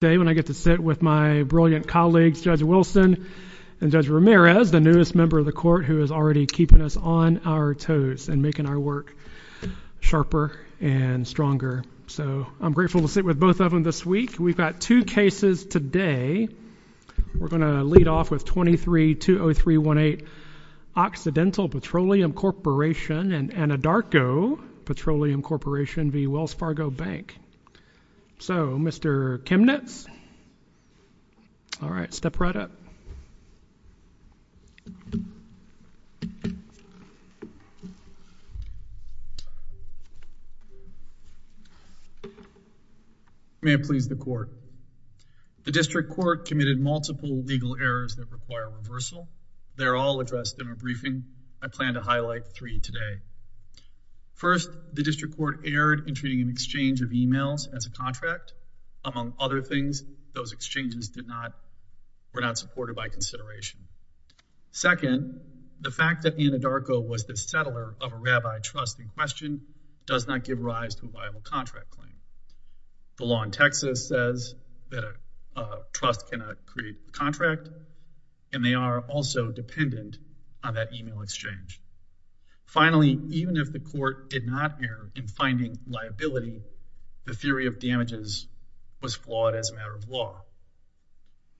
Bank. Today when I get to sit with my brilliant colleagues Judge Wilson and Judge Ramirez, the newest member of the court who is already keeping us on our toes and making our work sharper and stronger. So I'm grateful to sit with both of them this week. We've got two cases today. We're going to lead off with 23-20318 Occidental Petroleum Corporation and Anadarko Petroleum Corporation v. Wells Fargo Bank. So Mr. Chemnitz, all right, step right up. May it please the court. The district court committed multiple legal errors that require reversal. They're all addressed in a briefing. I plan to highlight three today. First, the district court erred in treating an exchange of emails as a contract. Among other things, those exchanges were not supported by consideration. Second, the fact that Anadarko was the settler of a rabbi trust in question does not give rise to a viable contract claim. The law in Texas says that a trust cannot create a contract, and they are also dependent on that email exchange. Finally, even if the court did not err in finding liability, the theory of damages was flawed as a matter of law.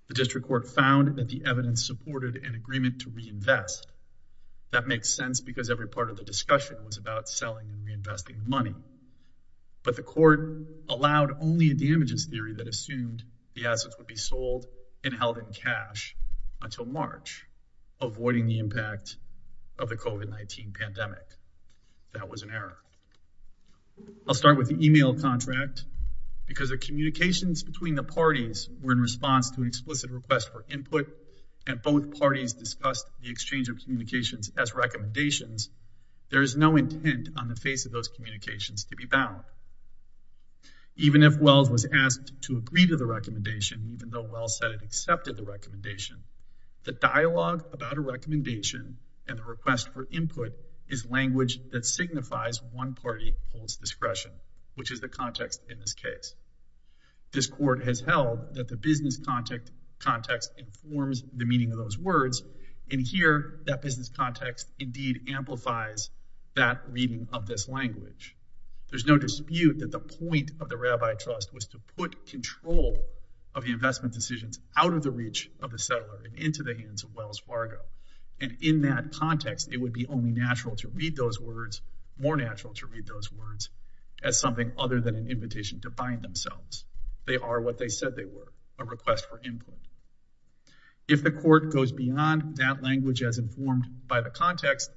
The district court found that the evidence supported an agreement to reinvest. That makes sense because every part of the discussion was about selling and reinvesting money. But the court allowed only a damages theory that assumed the assets would be sold and That was an error. I'll start with the email contract because the communications between the parties were in response to an explicit request for input, and both parties discussed the exchange of communications as recommendations. There is no intent on the face of those communications to be bound. Even if Wells was asked to agree to the recommendation, even though Wells said it accepted the recommendation, The dialogue about a recommendation and the request for input is language that signifies one party holds discretion, which is the context in this case. This court has held that the business context informs the meaning of those words, and here that business context indeed amplifies that reading of this language. There's no dispute that the point of the rabbi trust was to put control of the investment decisions out of the reach of the settler and into the hands of Wells Fargo, and in that context it would be only natural to read those words, more natural to read those words as something other than an invitation to bind themselves. They are what they said they were, a request for input. If the court goes beyond that language as informed by the context,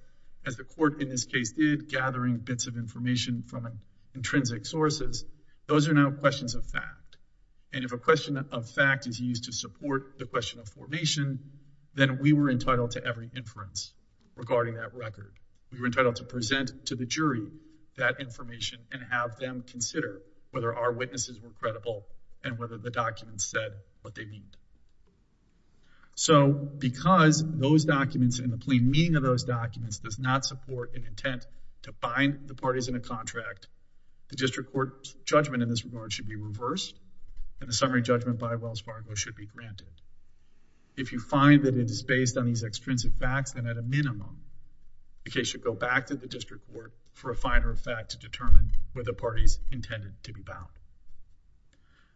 as the court in this case did, gathering bits of information from intrinsic sources, those are now questions of fact. And if a question of fact is used to support the question of formation, then we were entitled to every inference regarding that record. We were entitled to present to the jury that information and have them consider whether our witnesses were credible and whether the documents said what they mean. So because those documents and the plain meaning of those documents does not support an intent to bind the parties in a contract, the district court's judgment in this regard should be reversed and the summary judgment by Wells Fargo should be granted. If you find that it is based on these extrinsic facts, then at a minimum, the case should go back to the district court for a finer effect to determine whether the parties intended to be bound.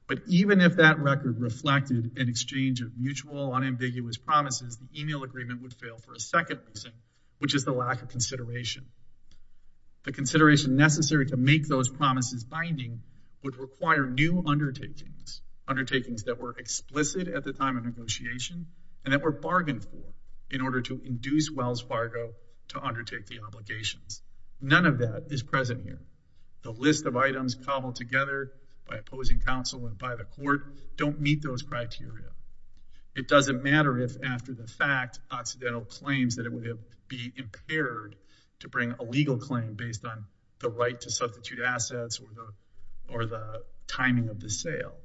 But even if that record reflected an exchange of mutual, unambiguous promises, the email agreement would fail for a second reason, which is the lack of consideration. The consideration necessary to make those promises binding would require new undertakings, undertakings that were explicit at the time of negotiation and that were bargained for in order to induce Wells Fargo to undertake the obligations. None of that is present here. The list of items cobbled together by opposing counsel and by the court don't meet those criteria. It doesn't matter if after the fact, accidental claims that it would be impaired to bring a legal claim based on the right to substitute assets or the timing of the sale.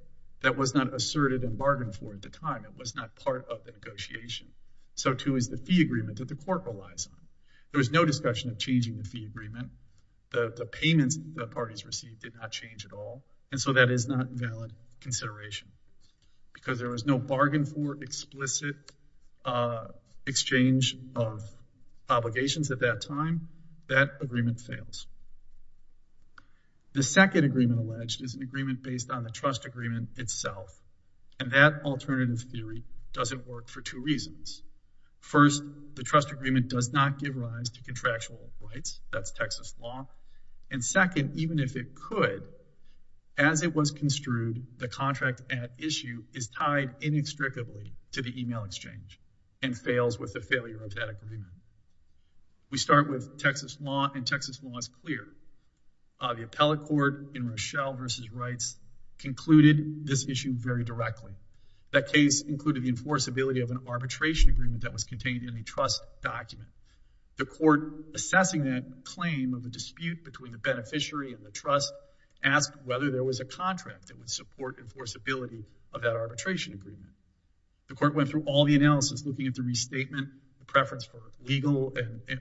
That was not asserted and bargained for at the time. It was not part of the negotiation. So too is the fee agreement that the court relies on. There was no discussion of changing the fee agreement. The payments the parties received did not change at all, and so that is not valid consideration because there was no bargain for explicit exchange of obligations at that time. That agreement fails. The second agreement alleged is an agreement based on the trust agreement itself, and that alternative theory doesn't work for two reasons. First, the trust agreement does not give rise to contractual rights. That's Texas law. And second, even if it could, as it was construed, the contract at issue is tied inextricably to the email exchange and fails with the failure of that agreement. We start with Texas law, and Texas law is clear. The appellate court in Rochelle v. Wrights concluded this issue very directly. That case included the enforceability of an arbitration agreement that was contained in the trust document. The court, assessing that claim of a dispute between the beneficiary and the trust, asked whether there was a contract that would support enforceability of that arbitration agreement. The court went through all the analysis, looking at the restatement, the preference for legal and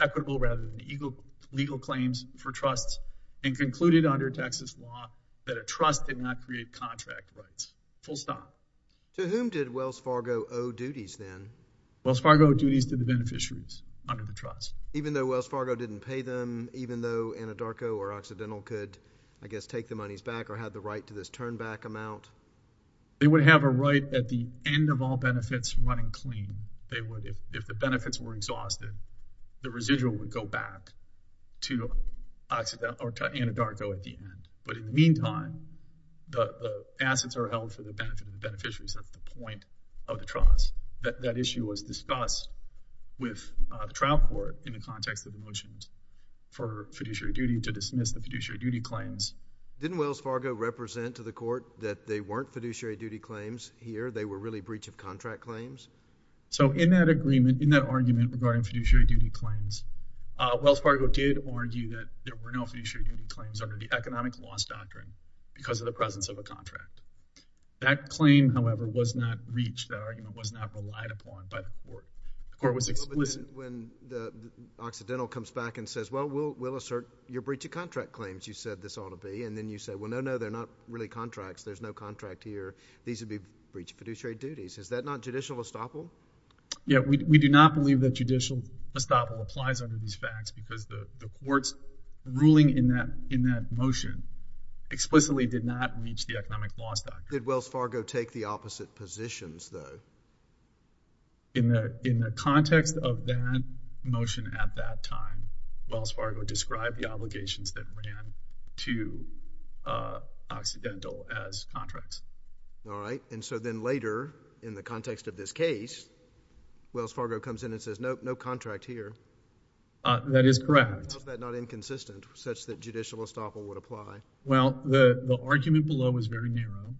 equitable rather than legal claims for trusts, and concluded under Texas law that a trust did not create contract rights. Full stop. To whom did Wells Fargo owe duties then? Wells Fargo owed duties to the beneficiaries under the trust. Even though Wells Fargo didn't pay them, even though Anadarko or Occidental could, I guess, take the monies back or have the right to this turn-back amount? They would have a right at the end of all benefits running clean. They would. If the benefits were exhausted, the residual would go back to Occidental or to Anadarko at the end. But in the meantime, the assets are held for the benefit of the beneficiaries at the point of the trust. That issue was discussed with the trial court in the context of the motions for fiduciary duty to dismiss the fiduciary duty claims. Didn't Wells Fargo represent to the court that they weren't fiduciary duty claims here? They were really breach of contract claims? So in that agreement, in that argument regarding fiduciary duty claims, Wells Fargo did argue that there were no fiduciary duty claims under the economic loss doctrine because of the presence of a contract. That claim, however, was not reached. That argument was not relied upon by the court. The court was explicit. When Occidental comes back and says, well, we'll assert your breach of contract claims, you said this ought to be. And then you say, well, no, no, they're not really contracts. There's no contract here. These would be breach of fiduciary duties. Is that not judicial estoppel? Yeah. We do not believe that judicial estoppel applies under these facts because the court's ruling in that motion explicitly did not reach the economic loss doctrine. Did Wells Fargo take the opposite positions, though? In the context of that motion at that time, Wells Fargo described the obligations that ran to Occidental as contracts. All right. And so then later, in the context of this case, Wells Fargo comes in and says, nope, no contract here. That is correct. How is that not inconsistent such that judicial estoppel would apply? Well, the argument below is very narrow.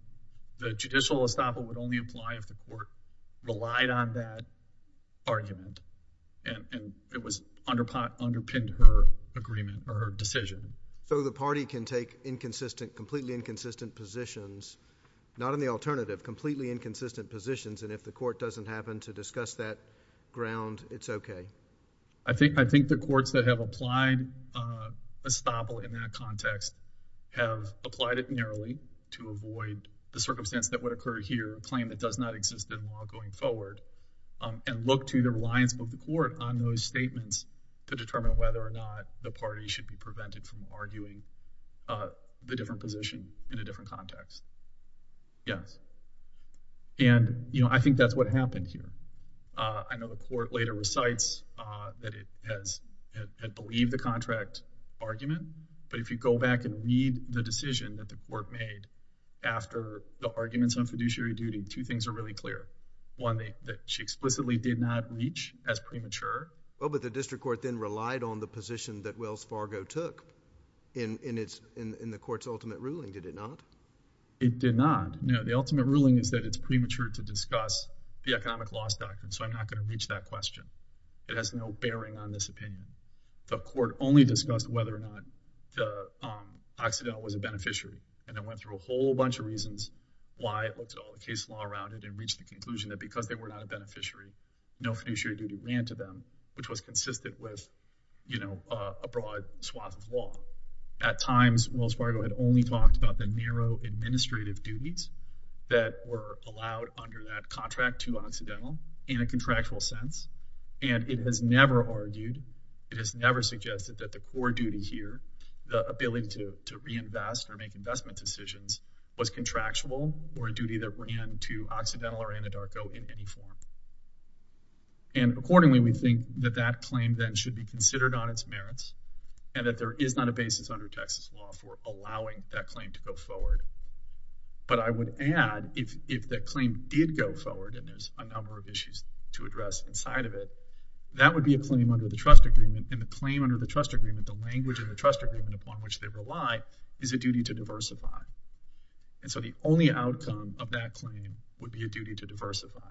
The judicial estoppel would only apply if the court relied on that argument and it was underpinned her agreement or her decision. So the party can take inconsistent, completely inconsistent positions, not in the alternative, completely inconsistent positions, and if the court doesn't happen to discuss that ground, it's okay? I think the courts that have applied estoppel in that context have applied it narrowly to avoid the circumstance that would occur here, a claim that does not exist at all going forward, and look to the reliance of the court on those statements to determine whether or not the party should be prevented from arguing the different position in a different context. Yes. And, you know, I think that's what happened here. I know the court later recites that it has believed the contract argument, but if you go back and read the decision that the court made after the arguments on fiduciary duty, two things are really clear. One, that she explicitly did not reach as premature. Well, but the district court then relied on the position that Wells Fargo took in the court's ultimate ruling. Did it not? It did not. No. The ultimate ruling is that it's premature to discuss the economic loss doctrine. So I'm not going to reach that question. It has no bearing on this opinion. The court only discussed whether or not Occidental was a beneficiary, and it went through a whole bunch of reasons why it looked at all the case law around it and reached the conclusion that because they were not a beneficiary, no fiduciary duty ran to them, which was consistent with, you know, a broad swath of law. At times, Wells Fargo had only talked about the narrow administrative duties that were in a contractual sense, and it has never argued, it has never suggested that the core duty here, the ability to reinvest or make investment decisions, was contractual or a duty that ran to Occidental or Anadarko in any form. And accordingly, we think that that claim then should be considered on its merits and that there is not a basis under Texas law for allowing that claim to go forward. But I would add, if that claim did go forward and there's a number of issues to address inside of it, that would be a claim under the trust agreement, and the claim under the trust agreement, the language of the trust agreement upon which they rely, is a duty to diversify. And so the only outcome of that claim would be a duty to diversify.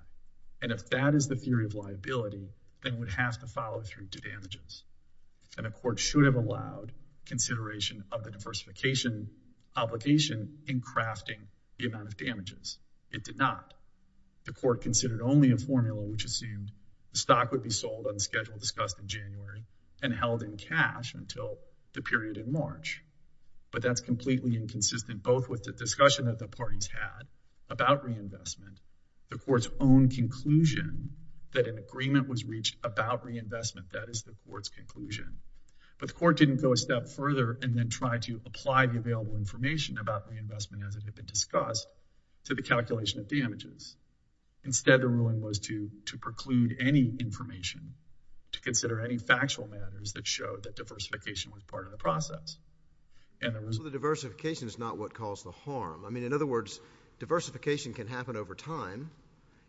And if that is the theory of liability, then it would have to follow through to damages. And the court should have allowed consideration of the diversification obligation in crafting the amount of damages. It did not. The court considered only a formula which assumed the stock would be sold on schedule discussed in January and held in cash until the period in March. But that's completely inconsistent, both with the discussion that the parties had about reinvestment, the court's own conclusion that an agreement was reached about reinvestment, that is the court's conclusion. But the court didn't go a step further and then try to apply the available information about reinvestment as it had been discussed to the calculation of damages. Instead, the ruling was to preclude any information, to consider any factual matters that showed that diversification was part of the process. And there was— Well, the diversification is not what caused the harm. I mean, in other words, diversification can happen over time.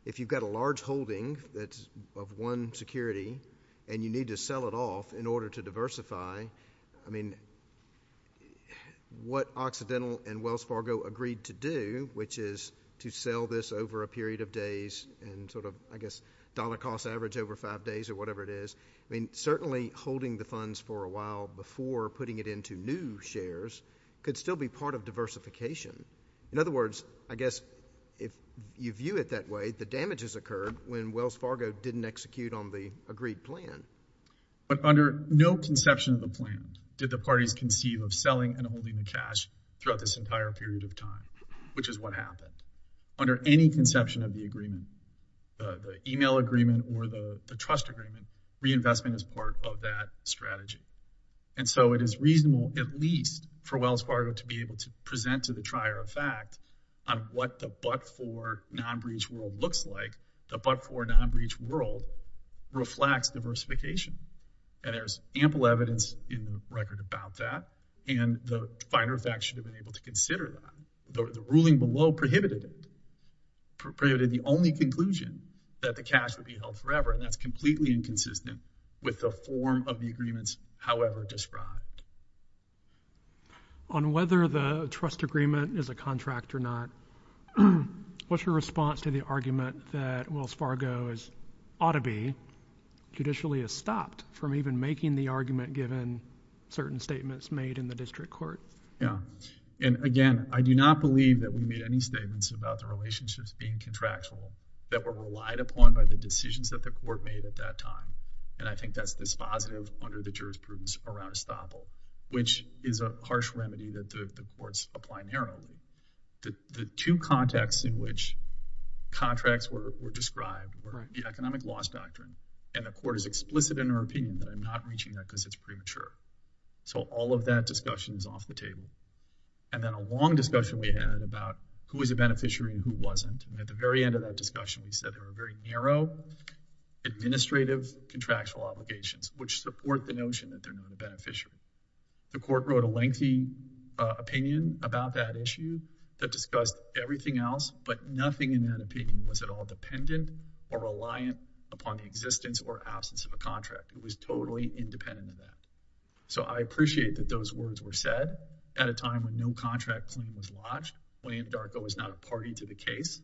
If you've got a large holding that's of one security and you need to sell it off in order to diversify, I mean, what Occidental and Wells Fargo agreed to do, which is to sell this over a period of days and sort of, I guess, dollar-cost average over 5 days or whatever it is, I mean, certainly holding the funds for a while before putting it into new shares could still be part of diversification. In other words, I guess, if you view it that way, the damages occurred when Wells Fargo didn't execute on the agreed plan. But under no conception of the plan did the parties conceive of selling and holding the cash throughout this entire period of time, which is what happened. Under any conception of the agreement, the email agreement or the trust agreement, reinvestment is part of that strategy. And so it is reasonable, at least for Wells Fargo, to be able to present to the trier of fact on what the but-for non-breach rule looks like. The but-for non-breach rule reflects diversification. And there's ample evidence in the record about that. And the finer facts should have been able to consider that. The ruling below prohibited it, prohibited the only conclusion that the cash would be however described. On whether the trust agreement is a contract or not, what's your response to the argument that Wells Fargo ought to be, judicially has stopped from even making the argument given certain statements made in the district court? Yeah. And again, I do not believe that we made any statements about the relationships being contractual that were relied upon by the decisions that the court made at that time. And I think that's this positive under the jurisprudence around estoppel, which is a harsh remedy that the courts apply narrowly. The two contexts in which contracts were described were the economic loss doctrine, and the court is explicit in her opinion that I'm not reaching that because it's premature. So all of that discussion is off the table. And then a long discussion we had about who is a beneficiary and who wasn't. At the very end of that discussion, we said there were very narrow administrative contractual obligations, which support the notion that they're not a beneficiary. The court wrote a lengthy opinion about that issue that discussed everything else, but nothing in that opinion was at all dependent or reliant upon the existence or absence of a contract. It was totally independent of that. So I appreciate that those words were said at a time when no contract claim was lodged. William Darko was not a party to the case,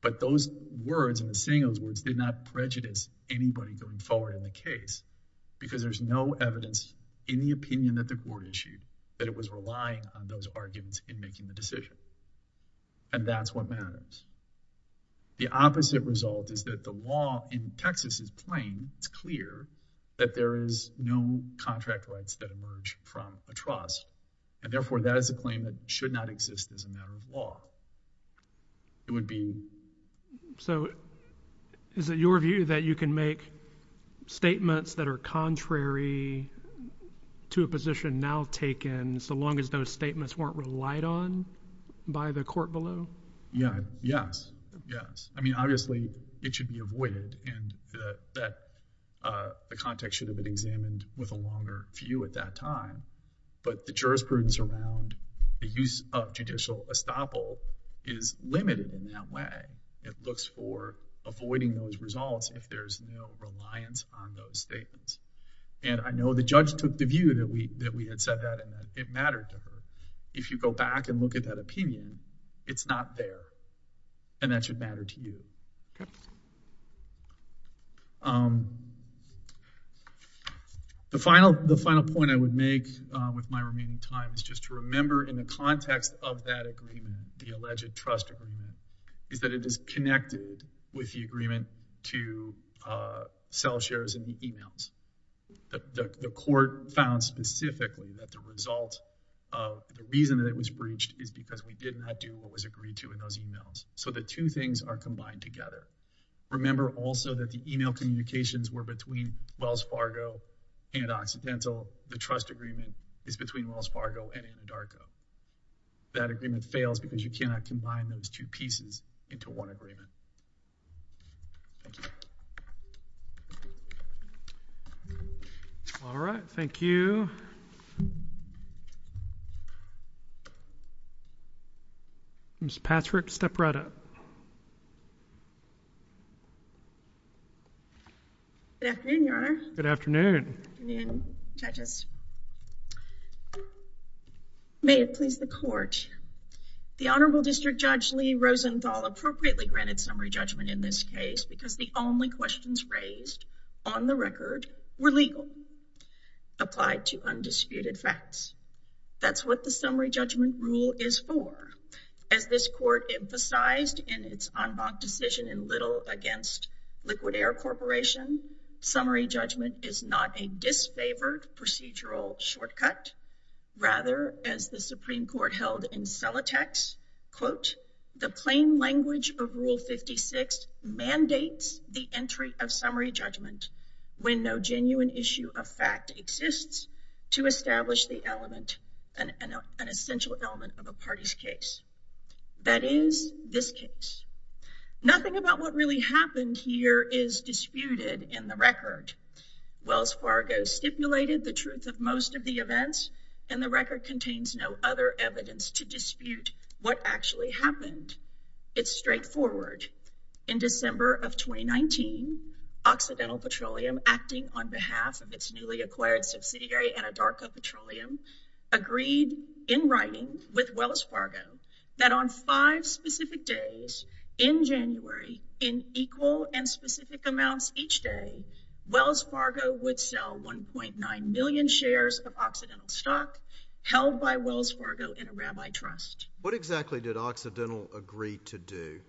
but those words and the saying of those words did not prejudice anybody going forward in the case because there's no evidence in the opinion that the court issued that it was relying on those arguments in making the decision. And that's what matters. The opposite result is that the law in Texas is plain, it's clear that there is no contract rights that emerge from a trust. And therefore, that is a claim that should not exist as a matter of law. It would be. So is it your view that you can make statements that are contrary to a position now taken so long as those statements weren't relied on by the court below? Yeah. Yes. Yes. I mean, obviously, it should be avoided and that the context should have been examined with a longer view at that time. But the jurisprudence around the use of judicial estoppel is limited in that way. It looks for avoiding those results if there's no reliance on those statements. And I know the judge took the view that we had said that and it mattered to her. If you go back and look at that opinion, it's not there and that should matter to you. OK. The final point I would make with my remaining time is just to remember in the context of that agreement, the alleged trust agreement, is that it is connected with the agreement to sell shares in the emails. The court found specifically that the result of the reason that it was breached is because we did not do what was agreed to in those emails. So the two things are combined together. Remember also that the email communications were between Wells Fargo and Occidental. The trust agreement is between Wells Fargo and Indarco. That agreement fails because you cannot combine those two pieces into one agreement. Thank you. All right. Thank you. Ms. Patrick, step right up. Good afternoon, Your Honor. Good afternoon. Good afternoon, judges. May it please the court. The Honorable District Judge Lee Rosenthal appropriately granted summary judgment in this case because the only questions raised on the record were legal. Applied to undisputed facts. That's what the summary judgment rule is for. As this court emphasized in its en banc decision in Little against Liquid Air Corporation, summary judgment is not a disfavored procedural shortcut. Rather, as the Supreme Court held in Celotex, quote, the plain language of Rule 56 mandates the entry of summary judgment when no genuine issue of fact exists to establish an essential element of a party's case. That is this case. Nothing about what really happened here is disputed in the record. Wells Fargo stipulated the truth of most of the events and the record contains no other evidence to dispute what actually happened. It's straightforward. In December of 2019, Occidental Petroleum, acting on behalf of its newly acquired subsidiary Anadarko Petroleum, agreed in writing with Wells Fargo that on five specific days in January in equal and specific amounts each day, Wells Fargo would sell 1.9 million shares of Occidental stock held by Wells Fargo in a rabbi trust. What exactly did Occidental agree to do?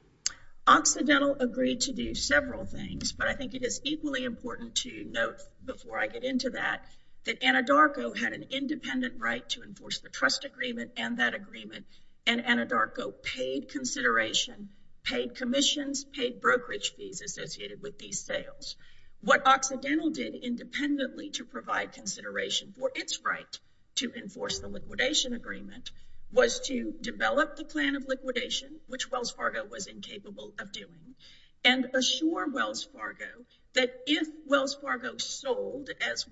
Occidental agreed to do several things, but I think it is equally important to note before I get into that, that Anadarko had an independent right to enforce the trust agreement and that agreement and Anadarko paid consideration, paid commissions, paid brokerage fees associated with these sales. What Occidental did independently to provide consideration for its right to enforce the liquidation agreement was to develop the plan of liquidation, which Wells Fargo was incapable of doing, and assure Wells Fargo that if Wells Fargo sold as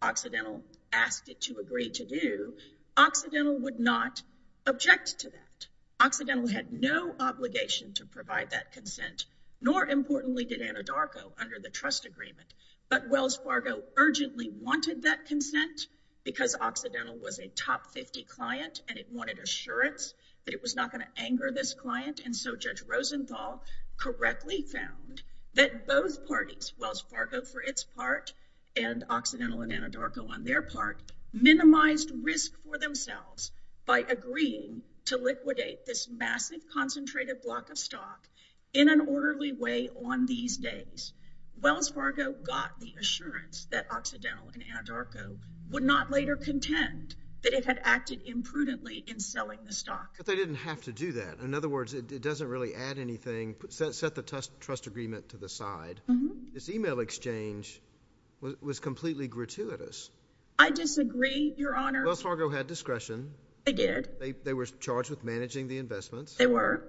Occidental asked it to agree to do, Occidental would not object to that. Occidental had no obligation to provide that consent, nor importantly did Anadarko under the trust agreement. But Wells Fargo urgently wanted that consent because Occidental was a top 50 client and it wanted assurance that it was not going to anger this client. And so Judge Rosenthal correctly found that both parties, Wells Fargo for its part and Occidental and Anadarko on their part, minimized risk for themselves by agreeing to liquidate this massive concentrated block of stock in an orderly way on these days. Wells Fargo got the assurance that Occidental and Anadarko would not later contend that they had acted imprudently in selling the stock. But they didn't have to do that. In other words, it doesn't really add anything, set the trust agreement to the side. This email exchange was completely gratuitous. I disagree, Your Honor. Wells Fargo had discretion. They did. They were charged with managing the investments. They were.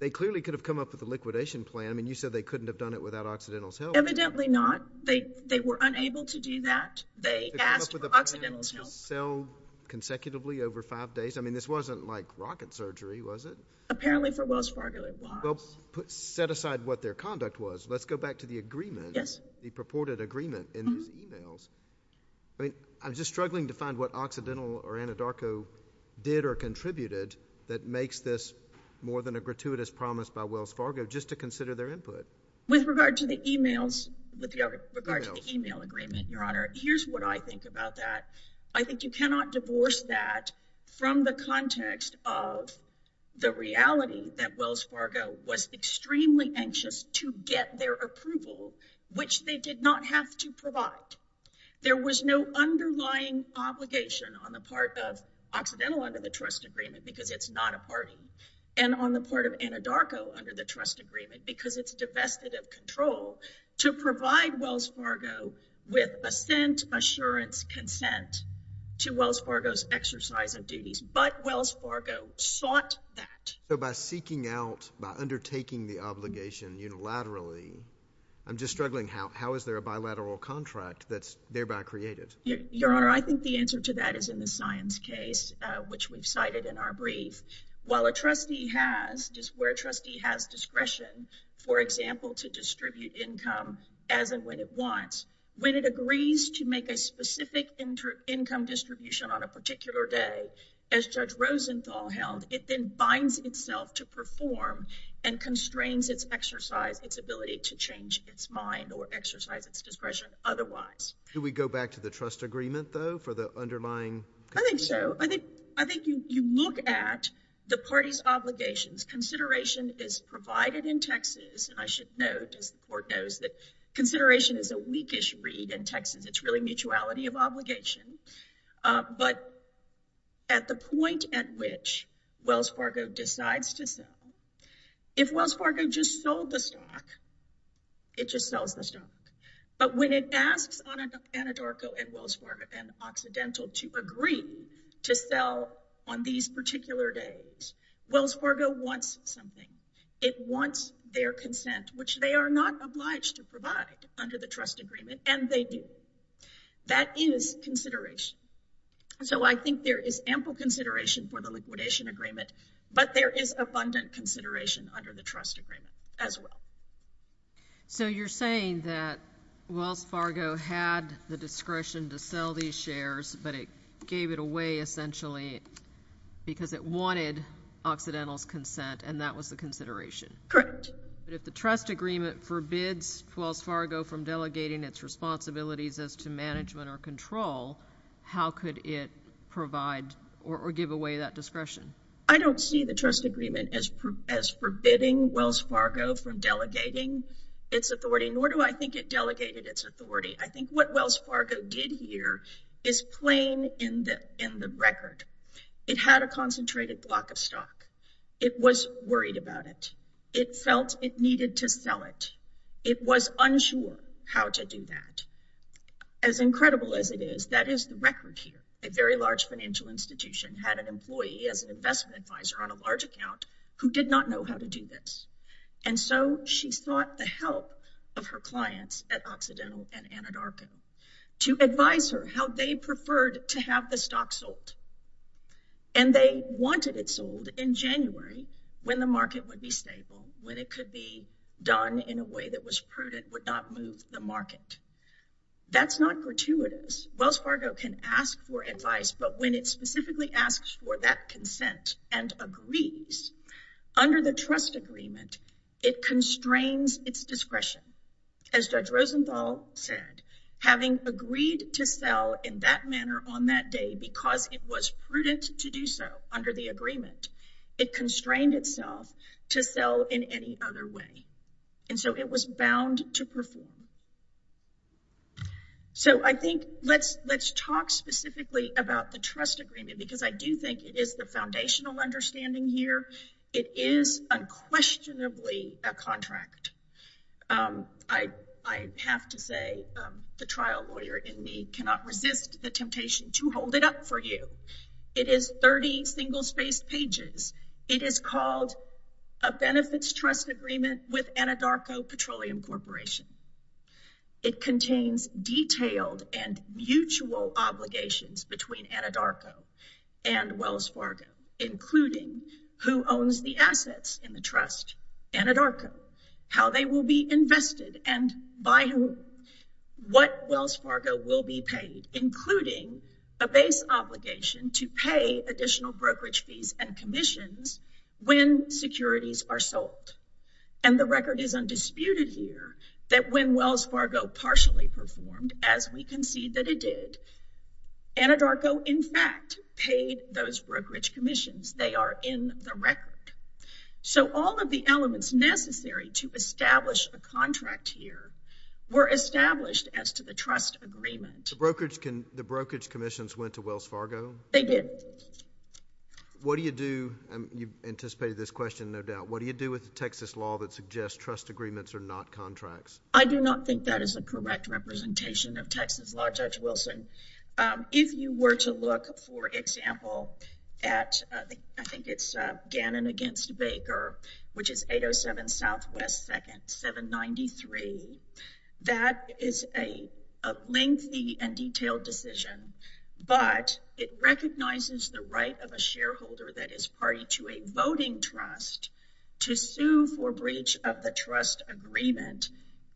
They clearly could have come up with a liquidation plan. I mean, you said they couldn't have done it without Occidental's help. Evidently not. They were unable to do that. They asked for Occidental's help. Sell consecutively over five days. I mean, this wasn't like rocket surgery, was it? Apparently for Wells Fargo it was. Well, set aside what their conduct was. Let's go back to the agreement. Yes. The purported agreement in these emails. I mean, I'm just struggling to find what Occidental or Anadarko did or contributed that makes this more than a gratuitous promise by Wells Fargo just to consider their input. With regard to the emails, with regard to the email agreement, Your Honor, here's what I think about that. I think you cannot divorce that from the context of the reality that Wells Fargo was extremely anxious to get their approval, which they did not have to provide. There was no underlying obligation on the part of Occidental under the trust agreement, because it's not a party, and on the part of Anadarko under the trust agreement, because it's divested of control, to provide Wells Fargo with assent, assurance, consent to Wells Fargo's exercise of duties. But Wells Fargo sought that. So by seeking out, by undertaking the obligation unilaterally, I'm just struggling. How is there a bilateral contract that's thereby created? Your Honor, I think the answer to that is in the science case, which we've cited in our brief. While a trustee has, where a trustee has discretion, for example, to distribute income as and when it wants, when it agrees to make a specific income distribution on a particular day, as Judge Rosenthal held, it then binds itself to perform and constrains its exercise, its ability to change its mind or exercise its discretion otherwise. Do we go back to the trust agreement, though, for the underlying? I think so. I think you look at the party's obligations. Consideration is provided in Texas, and I should note, as the Court knows, that consideration is a weakish read in Texas. It's really mutuality of obligation. But at the point at which Wells Fargo decides to sell, if Wells Fargo just sold the stock, it just sells the stock. But when it asks Anadarko and Wells Fargo and Occidental to agree to sell on these particular days, Wells Fargo wants something. It wants their consent, which they are not obliged to provide under the trust agreement, and they do. That is consideration. So I think there is ample consideration for the liquidation agreement, but there is abundant consideration under the trust agreement as well. So you're saying that Wells Fargo had the discretion to sell these shares, but it gave it away essentially because it wanted Occidental's consent, and that was the consideration? Correct. But if the trust agreement forbids Wells Fargo from delegating its responsibilities as to management or control, how could it provide or give away that discretion? I don't see the trust agreement as forbidding Wells Fargo from delegating its authority, nor do I think it delegated its authority. I think what Wells Fargo did here is plain in the record. It had a concentrated block of stock. It was worried about it. It felt it needed to sell it. It was unsure how to do that. As incredible as it is, that is the record here. A very large financial institution had an employee as an investment advisor on a large account who did not know how to do this. And so she sought the help of her clients at Occidental and Anadarko to advise her how they preferred to have the stock sold. And they wanted it sold in January when the market would be stable, when it could be done in a way that was prudent, would not move the market. That's not gratuitous. Wells Fargo can ask for advice, but when it specifically asks for that consent and agrees, under the trust agreement, it constrains its discretion. As Judge Rosenthal said, having agreed to sell in that manner on that day because it was prudent to do so under the agreement, it constrained itself to sell in any other way. And so it was bound to perform. So I think let's talk specifically about the trust agreement because I do think it is the foundational understanding here it is unquestionably a contract. I have to say the trial lawyer in me cannot resist the temptation to hold it up for you. It is 30 single-spaced pages. It is called a benefits trust agreement with Anadarko Petroleum Corporation. It contains detailed and mutual obligations between Anadarko and Wells Fargo, including who owns the assets in the trust, Anadarko, how they will be invested, and by whom. What Wells Fargo will be paid, including a base obligation to pay additional brokerage fees and commissions when securities are sold. And the record is undisputed here that when Wells Fargo partially performed, as we concede that it did, Anadarko, in fact, paid those brokerage commissions. They are in the record. So all of the elements necessary to establish a contract here were established as to the trust agreement. The brokerage commissions went to Wells Fargo? They did. What do you do? You've anticipated this question, no doubt. What do you do with the Texas law that suggests trust agreements are not contracts? I do not think that is a correct representation of Texas law, Judge Wilson. If you were to look, for example, at, I think it's Gannon against Baker, which is 807 Southwest 2nd 793, that is a lengthy and detailed decision, but it recognizes the right of a shareholder that is party to a voting trust to sue for breach of the trust agreement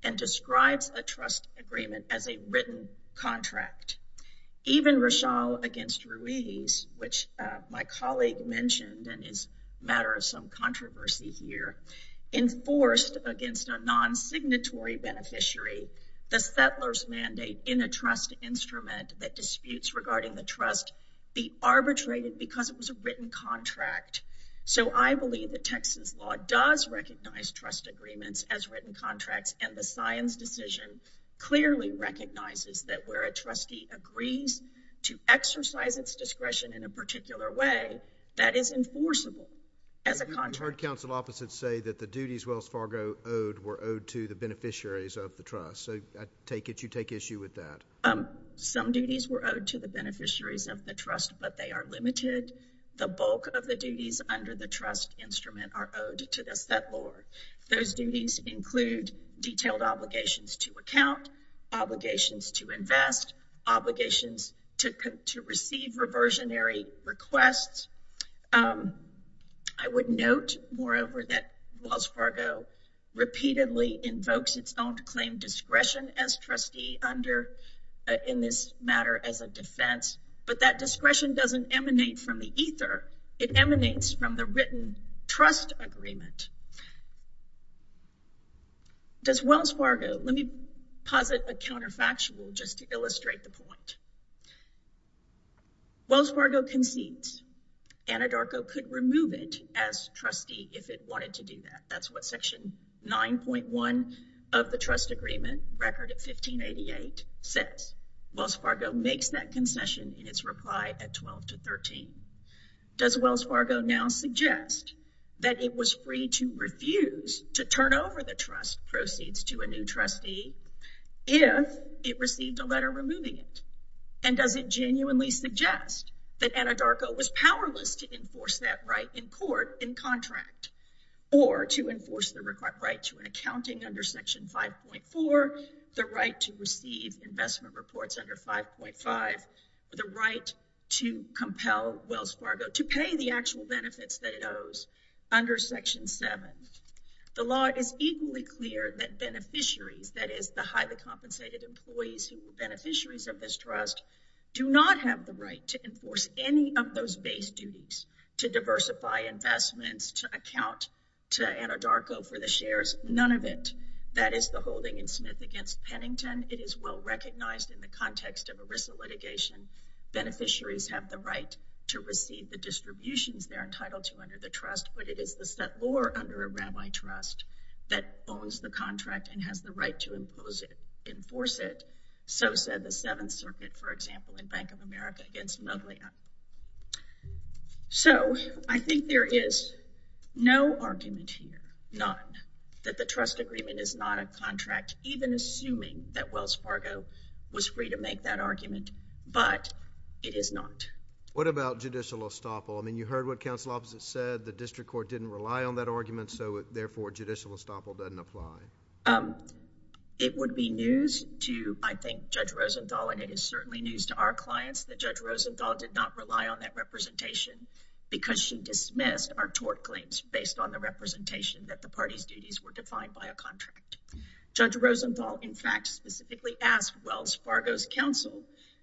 and describes a trust agreement as a written contract. Even Rochelle against Ruiz, which my colleague mentioned, and is a matter of some controversy here, enforced against a non-signatory beneficiary the settler's mandate in a trust instrument that disputes regarding the trust be arbitrated because it was a written contract. So I believe that Texas law does recognize trust agreements as written contracts, and the science decision clearly recognizes that where a trustee agrees to exercise its discretion in a particular way, that is enforceable as a contract. We've heard counsel officers say that the duties Wells Fargo owed were owed to the beneficiaries of the trust. So I take it you take issue with that. Some duties were owed to the beneficiaries of the trust, but they are limited. The bulk of the duties under the trust instrument are owed to the settler. Those duties include detailed obligations to account, obligations to invest, obligations to receive reversionary requests. I would note, moreover, that Wells Fargo repeatedly invokes its own claim discretion as trustee under in this matter as a defense, but that discretion doesn't emanate from the ether. It emanates from the written trust agreement. Does Wells Fargo, let me posit a counterfactual just to illustrate the point. Wells Fargo concedes. Anadarko could remove it as trustee if it wanted to do that. That's what section 9.1 of the trust agreement record of 1588 says. Wells Fargo makes that concession in its reply at 12 to 13. Does Wells Fargo now suggest that it was free to refuse to turn over the trust proceeds to a new trustee if it received a letter removing it? And does it genuinely suggest that Anadarko was powerless to enforce that right in court, in contract, or to enforce the right to an accounting under section 5.4, the right to receive investment reports under 5.5, the right to compel Wells Fargo to pay the actual benefits that it owes under section 7. The law is equally clear that beneficiaries, that is the highly compensated employees who are beneficiaries of this trust, do not have the right to enforce any of those base duties to diversify investments, to account to Anadarko for the shares. None of it. That is the holding in Smith against Pennington. It is well recognized in the context of ERISA litigation. Beneficiaries have the right to receive the distributions they're entitled to under the trust, but it is the settlor under a rabbi trust that owns the contract and has the right to enforce it. So said the Seventh Circuit, for example, in Bank of America against Muglia. So I think there is no argument here, that the trust agreement is not a contract, even assuming that Wells Fargo was free to make that argument. But it is not. What about judicial estoppel? I mean, you heard what counsel opposite said. The district court didn't rely on that argument. So therefore, judicial estoppel doesn't apply. It would be news to, I think, Judge Rosenthal, and it is certainly news to our clients that Judge Rosenthal did not rely on that representation because she dismissed our tort claims based on the representation that the party's duties were defined by a contract. Judge Rosenthal, in fact, specifically asked Wells Fargo's counsel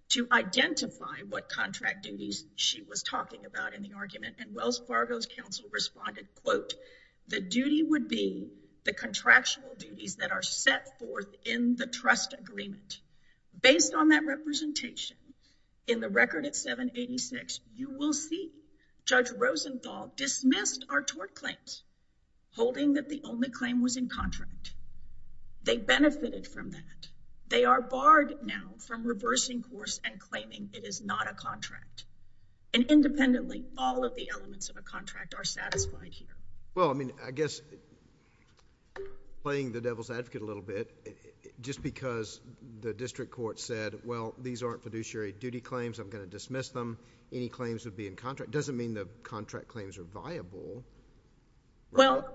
to identify what contract duties she was talking about in the argument. And Wells Fargo's counsel responded, quote, the duty would be the contractual duties that are set forth in the trust agreement. Based on that representation in the record at 786, you will see Judge Rosenthal dismissed our tort claims, holding that the only claim was in contract. They benefited from that. They are barred now from reversing course and claiming it is not a contract. And independently, all of the elements of a contract are satisfied here. Well, I mean, I guess playing the devil's advocate a little bit, just because the district court said, well, these aren't fiduciary duty claims. I'm going to dismiss them. Any claims would be in contract. Doesn't mean the contract claims are viable. Well,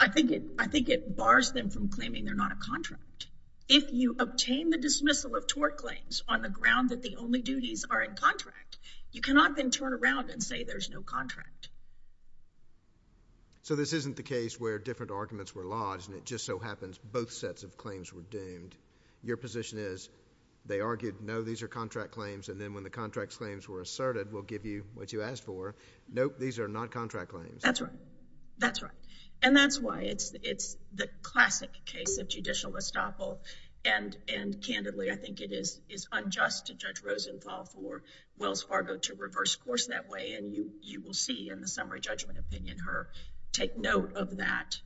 I think it bars them from claiming they're not a contract. If you obtain the dismissal of tort claims on the ground that the only duties are in contract, you cannot then turn around and say there's no contract. So this isn't the case where different arguments were lodged and it just so happens both sets of claims were doomed. Your position is they argued, no, these are contract claims. And then when the contract claims were asserted, we'll give you what you asked for. Nope, these are not contract claims. That's right. That's right. And that's why it's the classic case of judicial estoppel. And candidly, I think it is unjust to Judge Rosenthal for Wells Fargo to reverse course that way. And you will see in the summary judgment opinion, her take note of that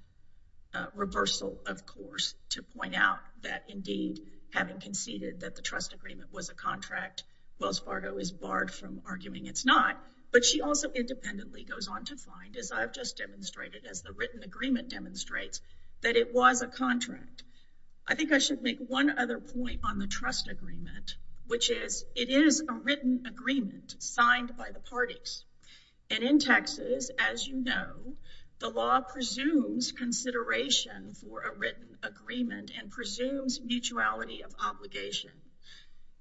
reversal, of course, to point out that indeed, having conceded that the trust agreement was a contract, Wells Fargo is barred from arguing it's not. But she also independently goes on to find, as I've just demonstrated, as the written agreement demonstrates, that it was a contract. I think I should make one other point on the trust agreement, which is it is a written agreement signed by the parties. And in Texas, as you know, the law presumes consideration for a written agreement and presumes mutuality of obligation.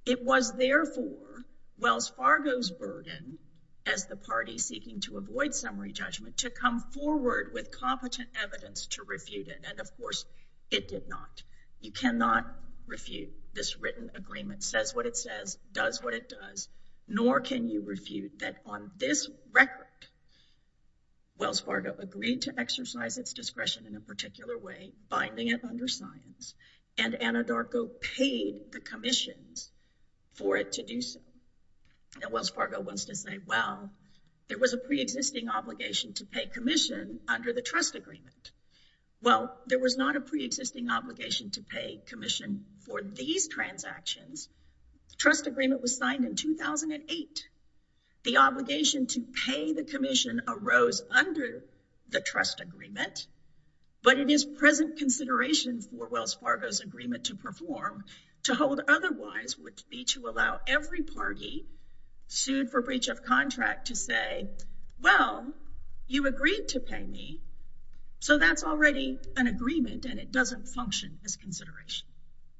It was, therefore, Wells Fargo's burden as the party seeking to avoid summary judgment to come forward with competent evidence to refute it. And of course, it did not. You cannot refute this written agreement, says what it says, does what it does, nor can you refute that on this record, Wells Fargo agreed to exercise its discretion in a particular way, binding it under science and Anadarko paid the commissions for it to do so. And Wells Fargo wants to say, well, there was a pre-existing obligation to pay commission under the trust agreement. Well, there was not a pre-existing obligation to pay commission for these transactions. Trust agreement was signed in 2008. The obligation to pay the commission arose under the trust agreement, but it is present consideration for Wells Fargo's agreement to perform to hold otherwise would be to allow every party sued for breach of contract to say, well, you agreed to pay me. So that's already an agreement and it doesn't function as consideration.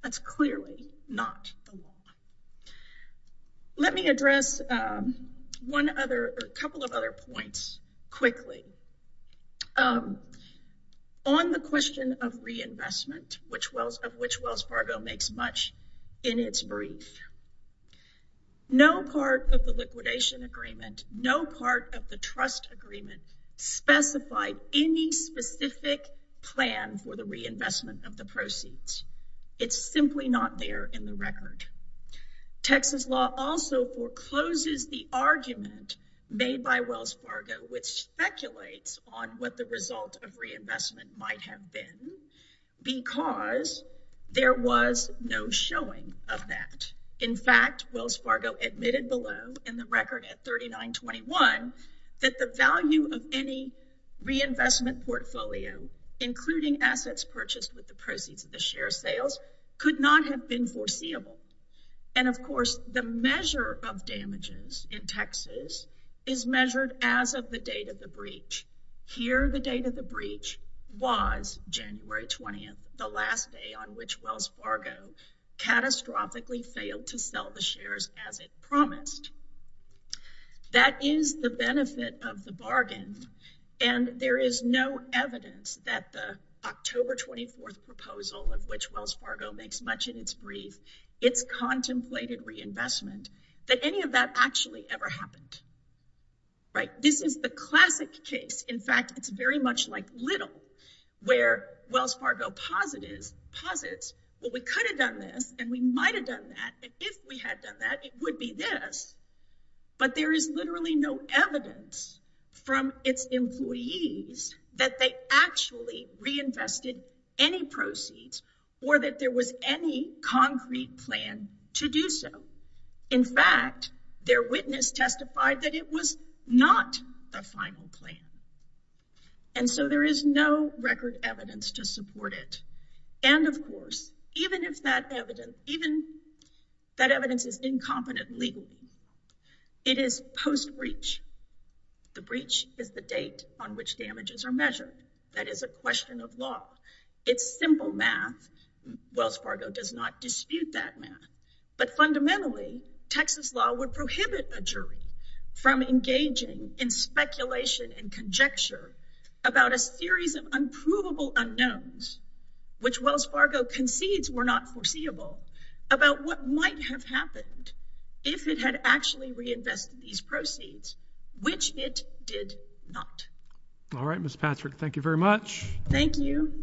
That's clearly not the law. Let me address one other couple of other points quickly. On the question of reinvestment, which Wells of which Wells Fargo makes much in its brief, no part of the liquidation agreement, no part of the trust agreement specified any specific plan for the reinvestment of the proceeds. It's simply not there in the record. Texas law also forecloses the argument made by Wells Fargo, which speculates on what the result of reinvestment might have been, because there was no showing of that. In fact, Wells Fargo admitted below in the record at 3921, that the value of any reinvestment portfolio, including assets purchased with the proceeds of the share sales, could not have been foreseeable. And of course, the measure of damages in Texas is measured as of the date of the breach. Here, the date of the breach was January 20th, the last day on which Wells Fargo catastrophically failed to sell the shares as it promised. That is the benefit of the bargain. And there is no evidence that the October 24th proposal of which contemplated reinvestment, that any of that actually ever happened. Right? This is the classic case. In fact, it's very much like Little, where Wells Fargo posits, well, we could have done this and we might have done that. And if we had done that, it would be this. But there is literally no evidence from its employees that they actually reinvested any proceeds, or that there was any concrete plan to do so. In fact, their witness testified that it was not the final plan. And so there is no record evidence to support it. And of course, even if that evidence, even that evidence is incompetent legally, it is post-breach. The breach is the date on which damages are measured. That is a question of law. It's simple math. Wells Fargo does not dispute that math. But fundamentally, Texas law would prohibit a jury from engaging in speculation and conjecture about a series of unprovable unknowns, which Wells Fargo concedes were not foreseeable, about what might have happened if it had actually reinvested these proceeds, which it did not. All right, Ms. Patrick, thank you very much. Thank you.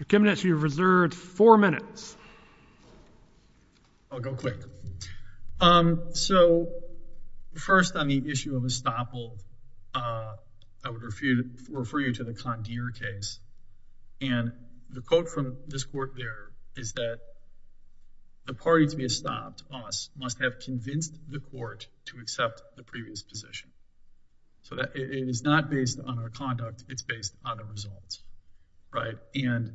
Mr. Kimnitz, you have reserved four minutes. I'll go quick. So first on the issue of estoppel, I would refer you to the Condier case. And the quote from this court there is that, the party to be estopped, us, must have convinced the court to accept the previous position. So it is not based on our conduct. It's based on the results, right? And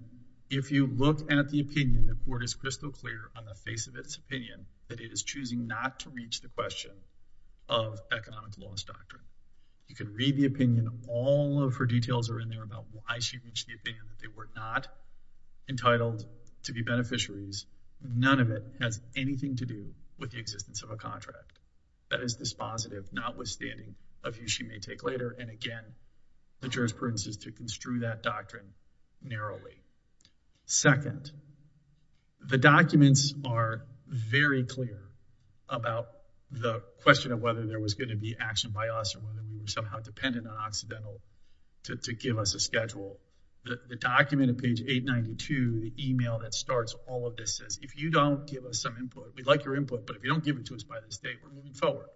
if you look at the opinion, the court is crystal clear on the face of its opinion that it is choosing not to reach the question of economic law's doctrine. You can read the opinion. All of her details are in there about why she reached the opinion that they were not entitled to be beneficiaries None of it has anything to do with the existence of a contract. That is dispositive, notwithstanding a view she may take later. And again, the jurisprudence is to construe that doctrine narrowly. Second, the documents are very clear about the question of whether there was going to be action by us or whether we were somehow dependent on Occidental to give us a schedule. The document on page 892, the email that starts all of this says, if you don't give us some input, we'd like your input, but if you don't give it to us by this date, we're moving forward.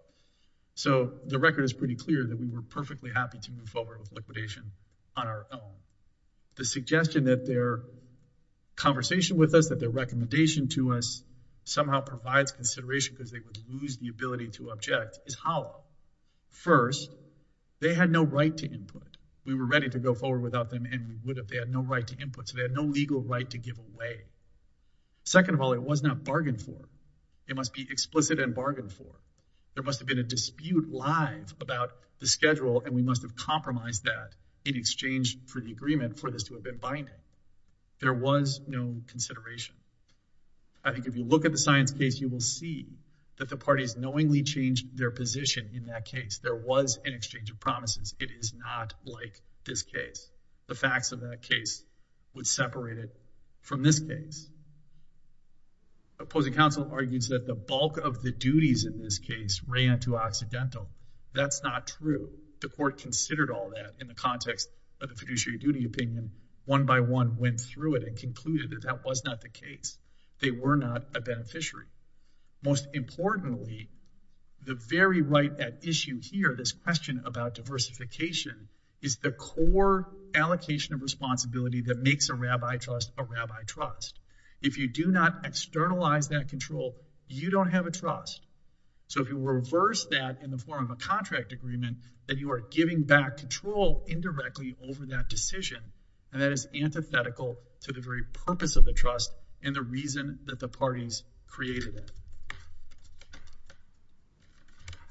So the record is pretty clear that we were perfectly happy to move forward with liquidation on our own. The suggestion that their conversation with us, that their recommendation to us somehow provides consideration because they would lose the ability to object is hollow. First, they had no right to input. We were ready to go forward without them and we would have. They had no right to input, so they had no legal right to give away. Second of all, it was not bargained for. It must be explicit and bargained for. There must have been a dispute live about the schedule and we must have compromised that in exchange for the agreement for this to have been binding. There was no consideration. I think if you look at the science case, you will see that the parties knowingly changed their position in that case. There was an exchange of promises. It is not like this case. The facts of that case would separate it from this case. Opposing counsel argues that the bulk of the duties in this case ran too accidental. That's not true. The court considered all that in the context of the fiduciary duty opinion. One by one went through it and concluded that that was not the case. They were not a beneficiary. Most importantly, the very right at issue here, this question about diversification, is the core allocation of responsibility that makes a rabbi trust a rabbi trust. If you do not externalize that control, you don't have a trust. So if you reverse that in the form of a contract agreement, then you are giving back control indirectly over that decision. And that is antithetical to the very purpose of the trust and the reason that the parties created it.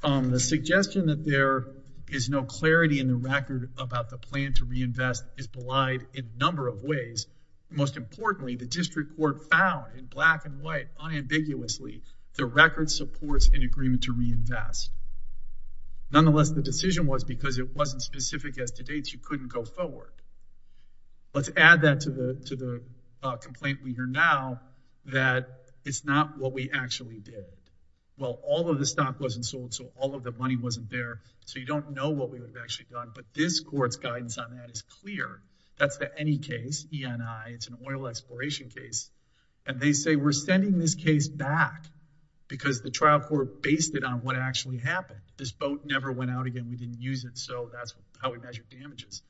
The suggestion that there is no clarity in the record about the plan to reinvest is belied in a number of ways. Most importantly, the district court found, in black and white, unambiguously, the record supports an agreement to reinvest. Nonetheless, the decision was because it wasn't specific as to dates. You couldn't go forward. Let's add that to the complaint we hear now, that it's not what we actually want. Well, all of the stock wasn't sold, so all of the money wasn't there. So you don't know what we would have actually done. But this court's guidance on that is clear. That's the any case, ENI, it's an oil exploration case. And they say, we're sending this case back because the trial court based it on what actually happened. This boat never went out again. We didn't use it. So that's how we measure damages.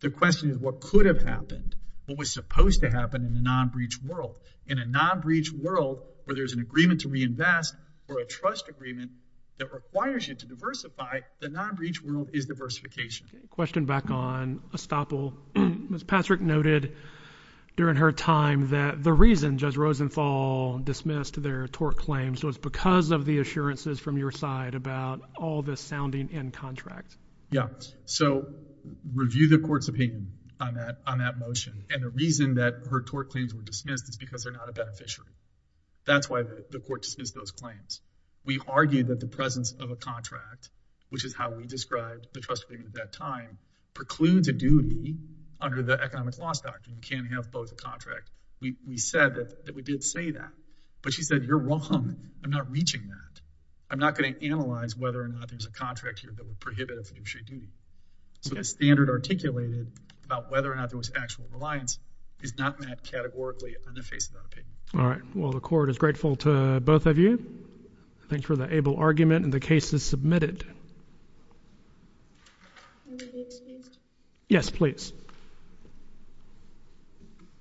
The question is, what could have happened? What was supposed to happen in the non-breach world? In a non-breach world, where there's an agreement to reinvest or a trust agreement that requires you to diversify, the non-breach world is diversification. Question back on estoppel. Ms. Patrick noted during her time that the reason Judge Rosenthal dismissed their tort claims was because of the assurances from your side about all this sounding in contract. Yeah. So review the court's opinion on that motion. And the reason that her tort claims were dismissed is because they're not a beneficiary. That's why the court dismissed those claims. We argued that the presence of a contract, which is how we described the trust agreement at that time, precludes a duty under the Economic Loss Doctrine. You can't have both a contract. We said that we did say that. But she said, you're wrong. I'm not reaching that. I'm not going to analyze whether or not there's a contract here that would prohibit a fiduciary duty. So the standard articulated about whether or not there was actual reliance is not met categorically in the face of that opinion. All right. Well, the court is grateful to both of you. Thanks for the able argument. And the case is submitted. Yes, please.